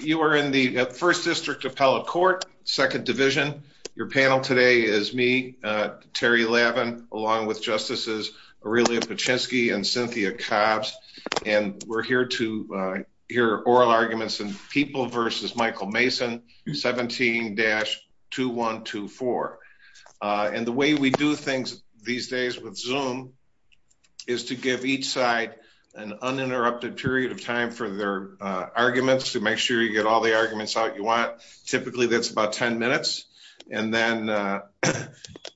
You are in the 1st District Appellate Court, 2nd Division. Your panel today is me, Terry Lavin, along with Justices Aurelia Paczynski and Cynthia Cobbs, and we're here to hear oral arguments in People v. Michael Mason, 17-2124. And the way we do things these days with Zoom is to give each side an uninterrupted period of time for their arguments, so make sure you get all the arguments out you want. Typically that's about 10 minutes, and then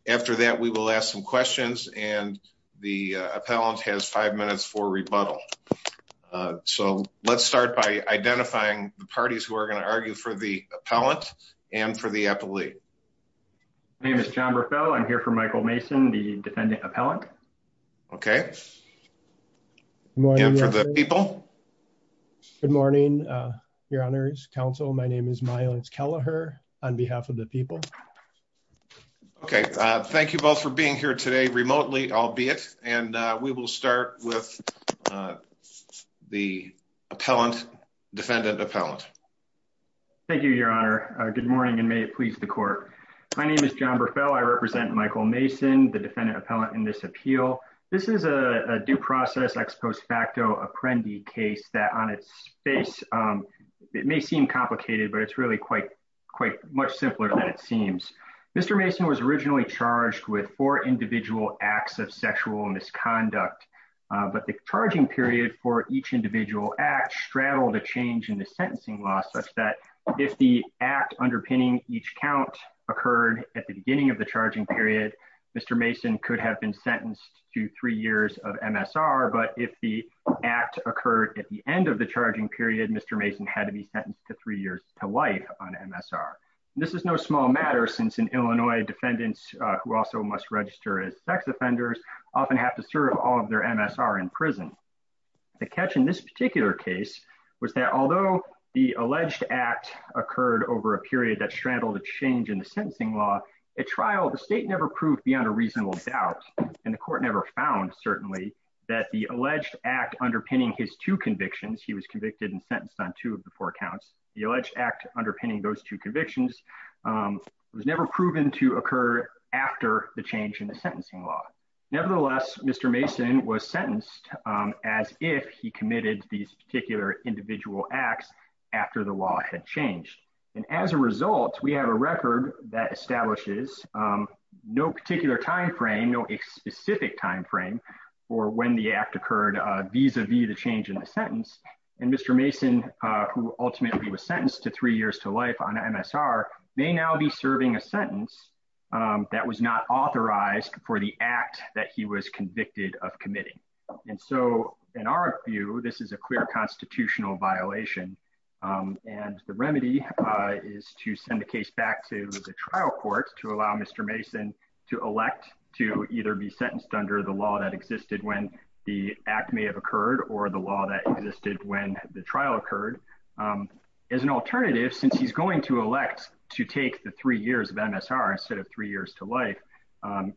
after that we will ask some questions, and the appellant has 5 minutes for rebuttal. So let's start by identifying the parties who are going to argue for the appellant and for the appellee. My name is John Burfell, I'm here for Michael Mason, the defendant appellant. Okay. And for the people? Good morning, Your Honors, Counsel, my name is Mylance Kelleher, on behalf of the people. Okay. Thank you both for being here today remotely, albeit, and we will start with the appellant, defendant appellant. Thank you, Your Honor. Good morning, and may it please the Court. My name is John Burfell, I represent Michael Mason, the defendant appellant in this appeal. This is a due process ex post facto apprendee case that on its face, it may seem complicated, but it's really quite much simpler than it seems. Mr. Mason was originally charged with four individual acts of sexual misconduct, but the charging period for each individual act straddled a change in the sentencing law such that if the act underpinning each count occurred at the beginning of the charging period, Mr. Mason could have been sentenced to three years of MSR, but if the act occurred at the end of the charging period, Mr. Mason had to be sentenced to three years to life on MSR. This is no small matter since in Illinois, defendants who also must register as sex offenders often have to serve all of their MSR in prison. The catch in this particular case was that although the alleged act occurred over a period that straddled a change in the sentencing law, at trial, the state never proved beyond a reasonable doubt, and the Court never found, certainly, that the alleged act underpinning his two convictions, he was convicted and sentenced on two of the four counts, the alleged act underpinning those two convictions was never proven to occur after the change in the sentencing law. Nevertheless, Mr. Mason was sentenced as if he committed these particular individual acts after the law had changed. As a result, we have a record that establishes no particular timeframe, no specific timeframe for when the act occurred vis-a-vis the change in the sentence, and Mr. Mason, who ultimately was sentenced to three years to life on MSR, may now be serving a sentence that was not authorized for the act that he was convicted of committing. And so, in our view, this is a clear constitutional violation, and the remedy is to send the case back to the trial court to allow Mr. Mason to elect to either be sentenced under the law that existed when the act may have occurred or the law that existed when the trial occurred. As an alternative, since he's going to elect to take the three years of MSR instead of three years to life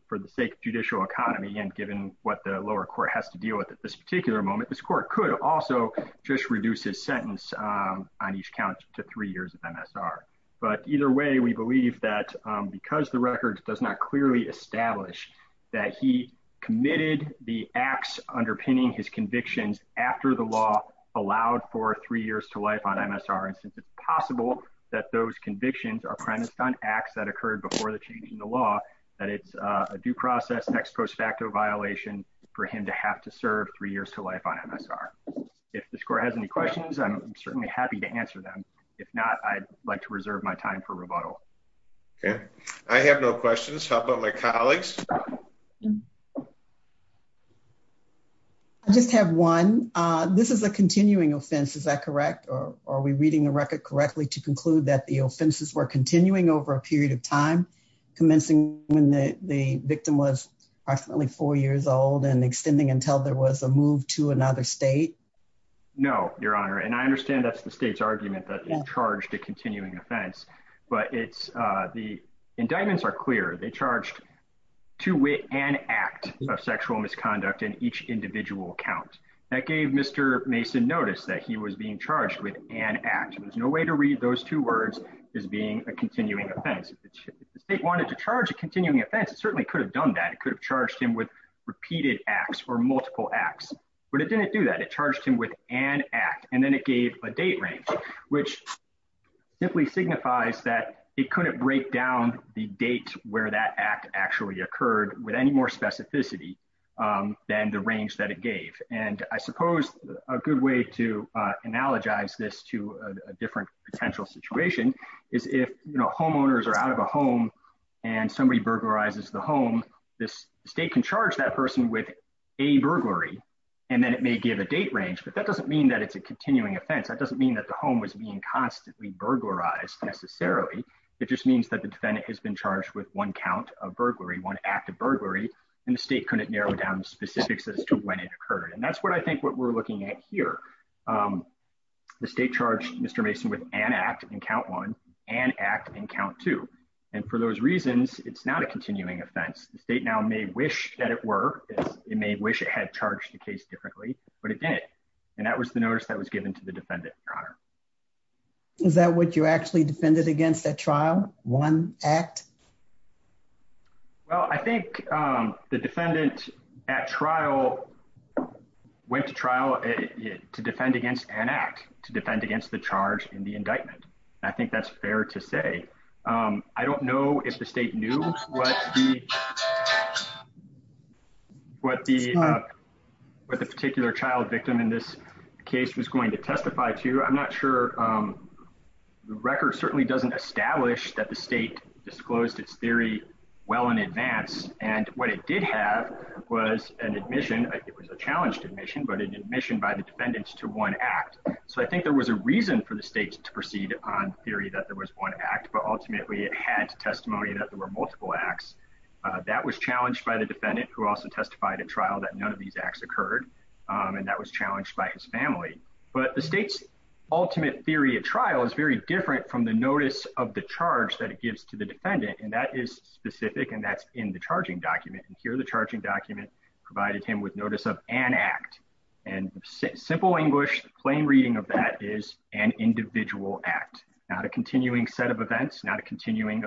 for the sake of judicial economy, and given what the lower court has to deal with at this particular moment, this court could also just reduce his sentence on each count to three years of MSR. But either way, we believe that because the record does not clearly establish that he committed the acts underpinning his convictions after the law allowed for three years to life on MSR, and since it's possible that those convictions are premised on acts that occurred before the change in the law, that it's a due process, ex post facto violation for him to have to serve three years to life on MSR. If this court has any questions, I'm certainly happy to answer them. If not, I'd like to reserve my time for rebuttal. Okay. I have no questions. How about my colleagues? I just have one. This is a continuing offense, is that correct, or are we reading the record correctly to the time, commencing when the victim was approximately four years old and extending until there was a move to another state? No, Your Honor, and I understand that's the state's argument that it's charged a continuing offense, but the indictments are clear. They charged two wit and act of sexual misconduct in each individual count. That gave Mr. Mason notice that he was being charged with an act. There's no way to read those two words as being a continuing offense. If the state wanted to charge a continuing offense, it certainly could have done that. It could have charged him with repeated acts or multiple acts, but it didn't do that. It charged him with an act, and then it gave a date range, which simply signifies that it couldn't break down the date where that act actually occurred with any more specificity than the range that it gave. I suppose a good way to analogize this to a different potential situation is if homeowners are out of a home and somebody burglarizes the home, the state can charge that person with a burglary, and then it may give a date range, but that doesn't mean that it's a continuing offense. That doesn't mean that the home was being constantly burglarized necessarily. It just means that the defendant has been charged with one count of burglary, one act of burglary, and the state couldn't narrow down the specifics as to when it occurred. That's what I think what we're looking at here. The state charged Mr. Mason with an act in count one, an act in count two. For those reasons, it's not a continuing offense. The state now may wish that it were. It may wish it had charged the case differently, but it didn't, and that was the notice that was given to the defendant, Your Honor. Is that what you actually defended against that trial, one act? Well, I think the defendant at trial went to trial to defend against an act, to defend against the charge in the indictment. I think that's fair to say. I don't know if the state knew what the particular child victim in this case was going to testify to. I'm not sure. The record certainly doesn't establish that the state disclosed its theory well in advance, and what it did have was an admission, it was a challenged admission, but an admission by the defendants to one act, so I think there was a reason for the state to proceed on theory that there was one act, but ultimately it had testimony that there were multiple acts. That was challenged by the defendant, who also testified at trial that none of these acts occurred, and that was challenged by his family. But the state's ultimate theory at trial is very different from the notice of the charge that it gives to the defendant, and that is specific, and that's in the charging document. Here, the charging document provided him with notice of an act, and simple English, plain reading of that is an individual act, not a continuing set of events, not a continuing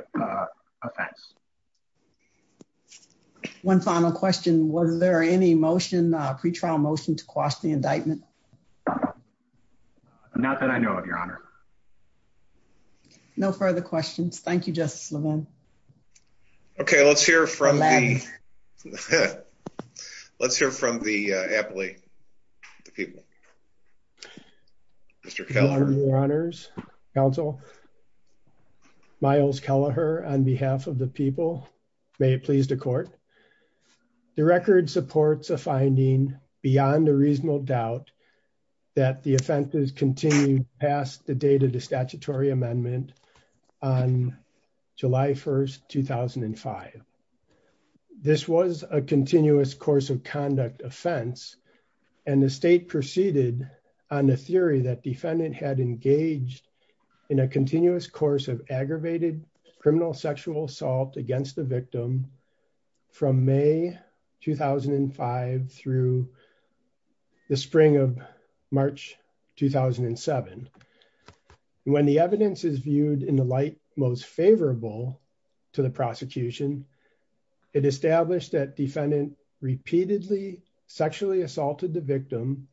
offense. One final question, was there any motion, pre-trial motion to quash the indictment? Not that I know of, Your Honor. No further questions. Thank you, Justice Levin. Okay, let's hear from the appellate, the people. Mr. Kelleher. Thank you, Your Honors, Counsel, Miles Kelleher, on behalf of the people. May it please the court. The record supports a finding beyond a reasonable doubt that the offense is continued past the date of the statutory amendment on July 1st, 2005. This was a continuous course of conduct offense, and the state proceeded on the theory that the defendant had engaged in a continuous course of aggravated criminal sexual assault against the victim from May 2005 through the spring of March 2007. When the evidence is viewed in the light most favorable to the prosecution, it established that defendant repeatedly sexually assaulted the victim,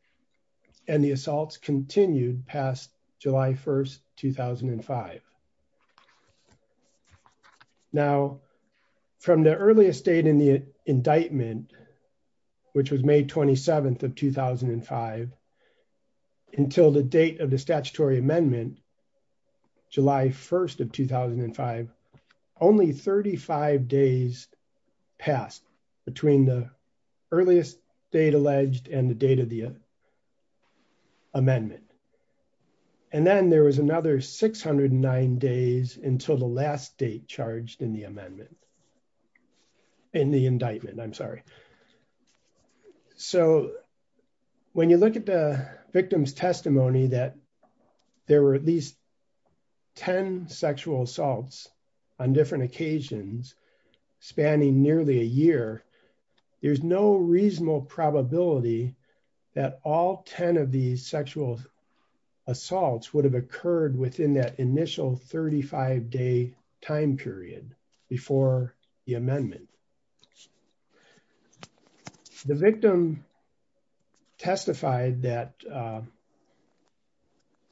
and the assaults continued past July 1st, 2005. Now from the earliest date in the indictment, which was May 27th of 2005, until the date of the statutory amendment, July 1st of 2005, only 35 days passed between the earliest date alleged and the date of the amendment. And then there was another 609 days until the last date charged in the amendment, in the indictment, I'm sorry. Okay. So when you look at the victim's testimony that there were at least 10 sexual assaults on different occasions, spanning nearly a year, there's no reasonable probability that all 10 of these sexual assaults would have occurred within that initial 35 day time period before the amendment. The victim testified that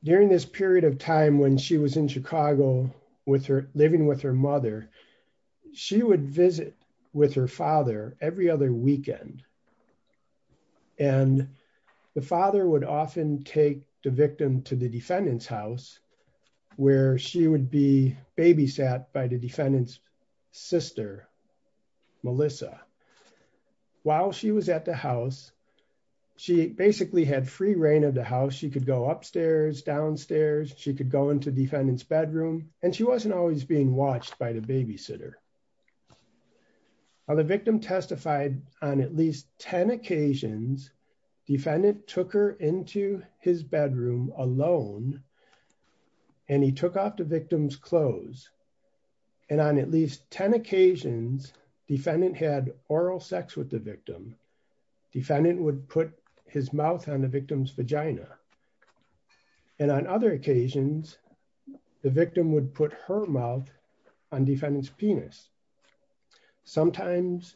during this period of time when she was in Chicago, living with her mother, she would visit with her father every other weekend. And the father would often take the victim to the defendant's house where she would be with the defendant's sister, Melissa. While she was at the house, she basically had free reign of the house. She could go upstairs, downstairs, she could go into defendant's bedroom, and she wasn't always being watched by the babysitter. Now the victim testified on at least 10 occasions, defendant took her into his bedroom alone, and he took off the victim's clothes. And on at least 10 occasions, defendant had oral sex with the victim. Defendant would put his mouth on the victim's vagina. And on other occasions, the victim would put her mouth on defendant's penis. Sometimes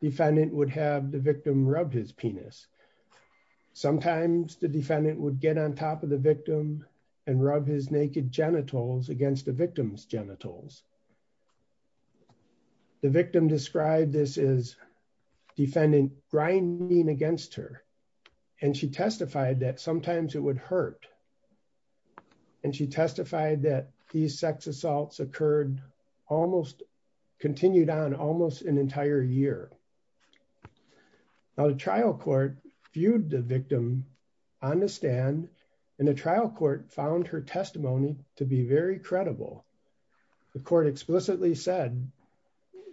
defendant would have the victim rub his penis. Sometimes the defendant would get on top of the victim and rub his naked genitals against the victim's genitals. The victim described this as defendant grinding against her, and she testified that sometimes it would hurt. And she testified that these sex assaults occurred almost, continued on almost an entire year. Now the trial court viewed the victim on the stand, and the trial court found her testimony to be very credible. The court explicitly said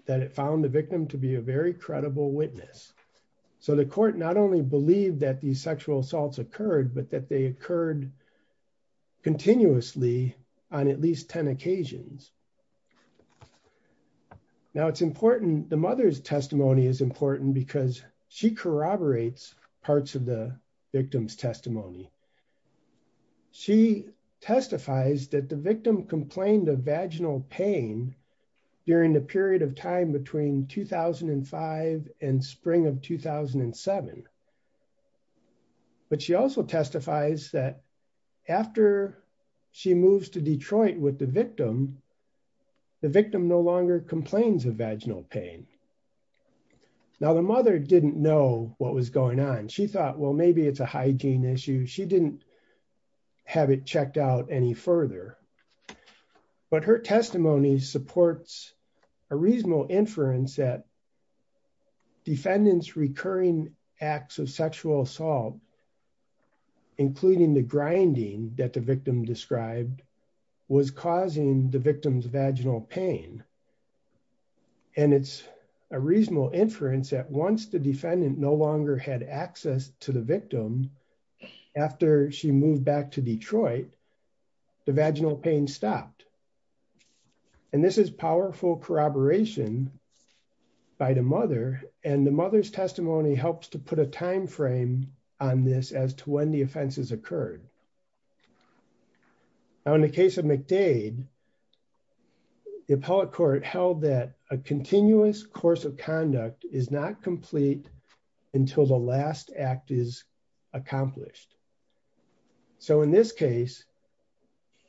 that it found the victim to be a very credible witness. So the court not only believed that these sexual assaults occurred, but that they occurred continuously on at least 10 occasions. Now, it's important, the mother's testimony is important because she corroborates parts of the victim's testimony. She testifies that the victim complained of vaginal pain during the period of time between 2005 and spring of 2007. But she also testifies that after she moves to Detroit with the victim, the victim no longer complains of vaginal pain. Now the mother didn't know what was going on. She thought, well, maybe it's a hygiene issue. She didn't have it checked out any further. But her testimony supports a reasonable inference that defendant's recurring acts of sexual assault, including the grinding that the victim described, was causing the victim's vaginal pain. And it's a reasonable inference that once the defendant no longer had access to the victim, the vaginal pain stopped. And this is powerful corroboration by the mother, and the mother's testimony helps to put a time frame on this as to when the offenses occurred. Now in the case of McDade, the appellate court held that a continuous course of conduct is not complete until the last act is accomplished. So in this case,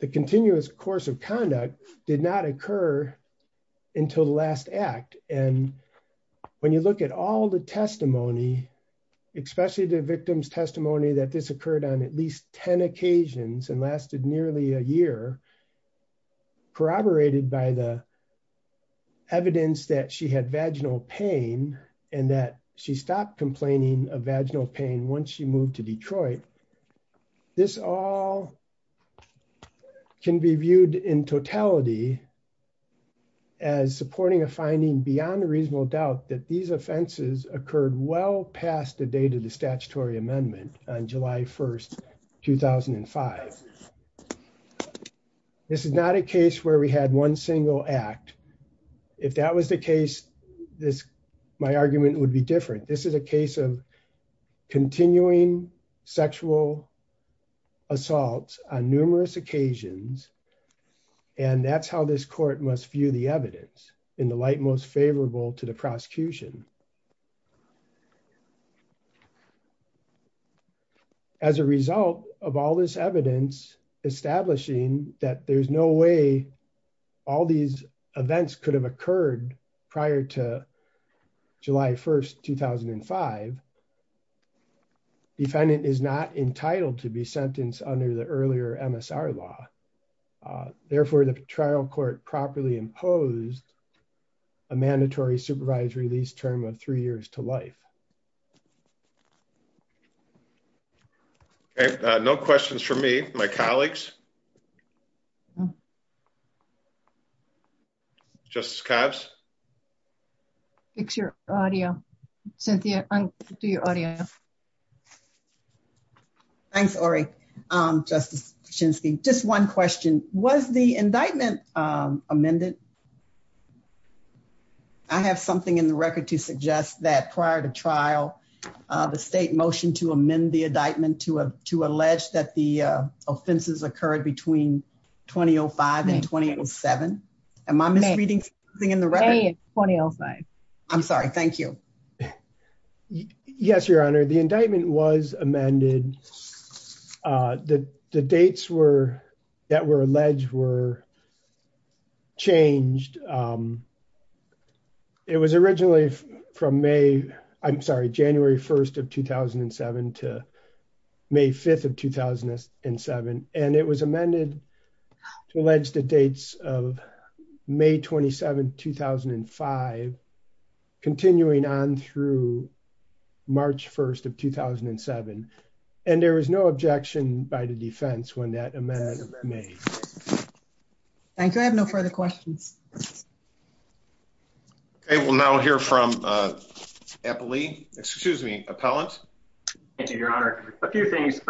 the continuous course of conduct did not occur until the last act. And when you look at all the testimony, especially the victim's testimony that this occurred on at least 10 occasions and lasted nearly a year, corroborated by the evidence that she had vaginal pain and that she stopped complaining of vaginal pain once she moved to Detroit. This all can be viewed in totality as supporting a finding beyond a reasonable doubt that these offenses occurred well past the date of the statutory amendment on July 1st, 2005. This is not a case where we had one single act. If that was the case, my argument would be different. This is a case of continuing sexual assaults on numerous occasions. And that's how this court must view the evidence in the light most favorable to the prosecution. As a result of all this evidence, establishing that there's no way all these events could have occurred prior to July 1st, 2005, defendant is not entitled to be sentenced under the earlier MSR law. Therefore, the trial court properly imposed a mandatory supervisory release term for the defendant to receive a maximum of three years to life. Okay. No questions for me. My colleagues. Justice Cobbs? Fix your audio. Cynthia, undo your audio. Thanks, Orie. Justice Kaczynski. Was the indictment amended? I have something in the record to suggest that it was not amended. prior to trial, the state motioned to amend the indictment to allege that the offenses occurred between 2005 and 2007. Am I misreading something in the record? It's 2005. I'm sorry. Thank you. Yes, Your Honor. The indictment was amended. The dates that were alleged were changed. It was originally from May, I'm sorry, January 1st of 2007 to May 5th of 2007. And it was amended to allege the dates of May 27th, 2005, continuing on through March 1st of 2007. And there was no objection by the defense when that amendment was made. Thank you. I have no further questions. Okay, we'll now hear from Eppley, excuse me, Appellant. Thank you, Your Honor. A few things.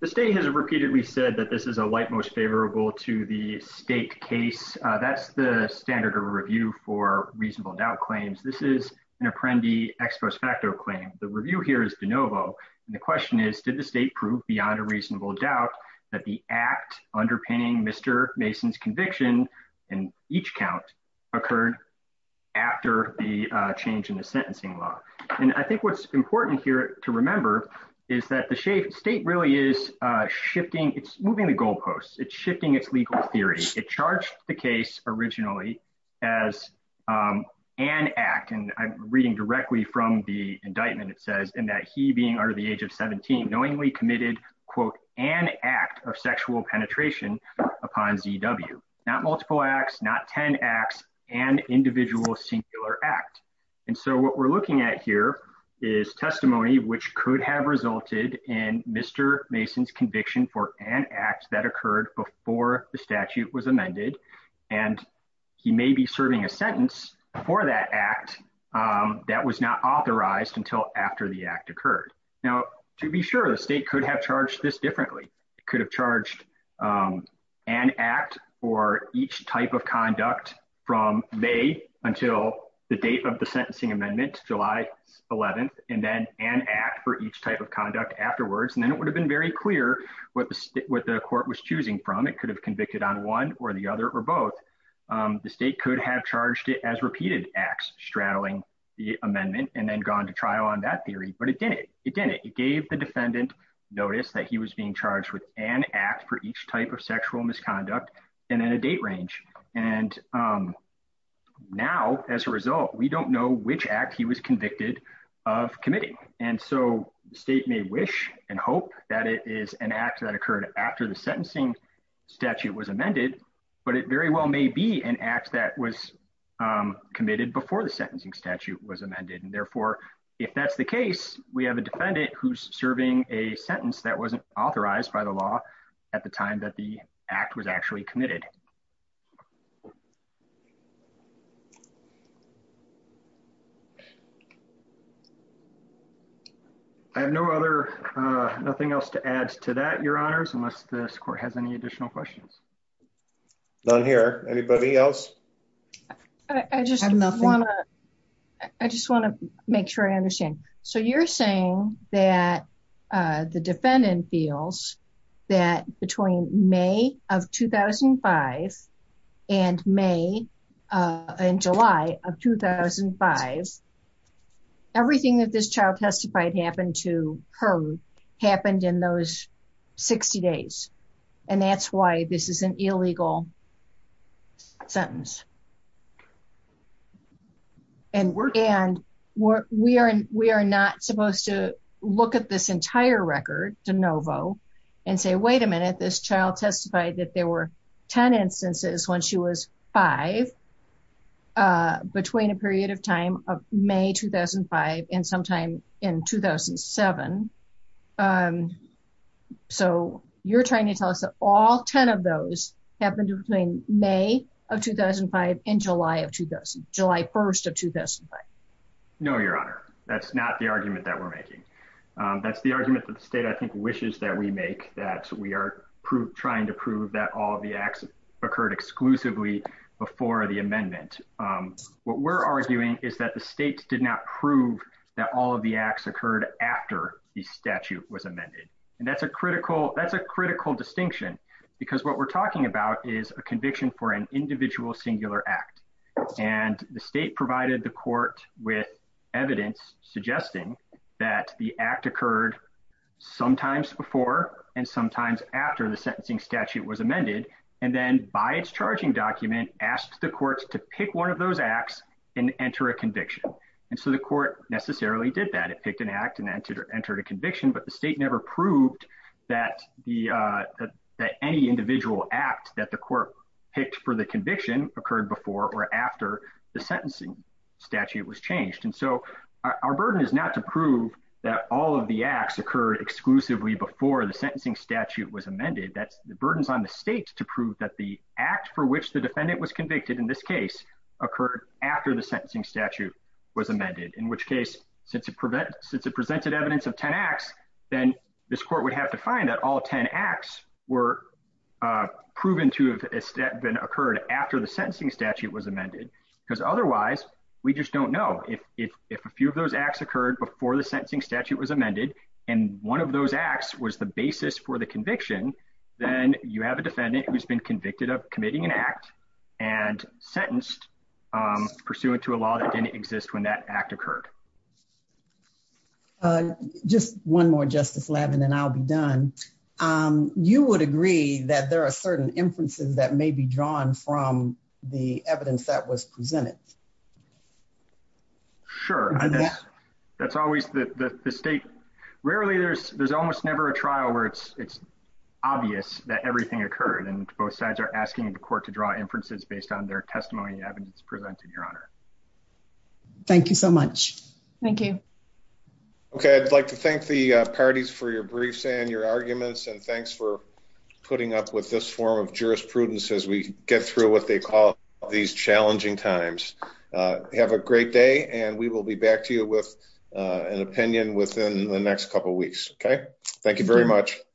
The state has repeatedly said that this is a light, most favorable to the state case. That's the standard of review for reasonable doubt claims. This is an Apprendi Ex Prospecto claim. The review here is de novo. And the question is, did the state prove beyond a reasonable doubt that the act underpinning Mr. Mason's conviction in each count occurred after the change in the sentencing law? And I think what's important here to remember is that the state really is shifting, it's moving the goalposts, it's shifting its legal theory. It charged the case originally as an act, and I'm reading directly from the indictment, it says, in that he being under the age of 17, knowingly committed, quote, an act of upon ZW. Not multiple acts, not 10 acts, an individual singular act. And so what we're looking at here is testimony which could have resulted in Mr. Mason's conviction for an act that occurred before the statute was amended. And he may be serving a sentence for that act that was not authorized until after the act occurred. Now, to be sure, the state could have charged this differently. It could have charged an act for each type of conduct from May until the date of the sentencing amendment, July 11th, and then an act for each type of conduct afterwards. And then it would have been very clear what the court was choosing from. It could have convicted on one or the other or both. The state could have charged it as repeated acts, straddling the amendment, and then gone to trial on that theory. But it didn't. It didn't. It gave the defendant notice that he was being charged with an act for each type of sexual misconduct and in a date range. And now, as a result, we don't know which act he was convicted of committing. And so the state may wish and hope that it is an act that occurred after the sentencing statute was amended, but it very well may be an act that was committed before the sentencing statute was amended. And therefore, if that's the case, we have a defendant who's serving a sentence that wasn't authorized by the law at the time that the act was actually committed. I have no other nothing else to add to that, your honors, unless the court has any additional questions. None here. Anybody else? I just want to I just want to make sure I understand. So you're saying that the defendant feels that between May of 2005 and May and July of 2005, everything that this child testified happened to her happened in those 60 days. And that's why this is an illegal. Sentence. And we're and we're we are we are not supposed to look at this entire record de novo and say, wait a minute, this child testified that there were 10 instances when she was five. Between a period of time of May 2005 and sometime in 2007. And so you're trying to tell us that all 10 of those happened between May of 2005 and July of 2000, July 1st of 2005. No, your honor. That's not the argument that we're making. That's the argument that the state, I think, wishes that we make that we are trying to prove that all of the acts occurred exclusively before the amendment. What we're arguing is that the state did not prove that all of the acts occurred after the statute was amended. And that's a critical that's a critical distinction, because what we're talking about is a conviction for an individual singular act. And the state provided the court with evidence suggesting that the act occurred sometimes before and sometimes after the sentencing statute was amended and then by its charging document, asked the courts to pick one of those acts and enter a conviction. And so the court necessarily did that. It picked an act and entered a conviction. But the state never proved that the that any individual act that the court picked for the conviction occurred before or after the sentencing statute was changed. And so our burden is not to prove that all of the acts occurred exclusively before the sentencing statute was amended. That's the burdens on the state to prove that the act for which the defendant was convicted in this case occurred after the sentencing statute was amended, in which case since it prevent since it presented evidence of 10 acts, then this court would have to find that all 10 acts were proven to have been occurred after the sentencing statute was amended. Because otherwise, we just don't know if if if a few of those acts occurred before the basis for the conviction, then you have a defendant who's been convicted of committing an act and sentenced pursuant to a law that didn't exist when that act occurred. Just one more, Justice Levin, and I'll be done. You would agree that there are certain inferences that may be drawn from the evidence that was presented. Sure, I guess that's always the state. Rarely, there's there's almost never a trial where it's it's obvious that everything occurred and both sides are asking the court to draw inferences based on their testimony evidence presented, Your Honor. Thank you so much. Thank you. OK, I'd like to thank the parties for your briefs and your arguments, and thanks for putting up with this form of jurisprudence as we get through what they call these challenging times. Have a great day and we will be back to you with an opinion within the next couple of weeks. OK, thank you very much.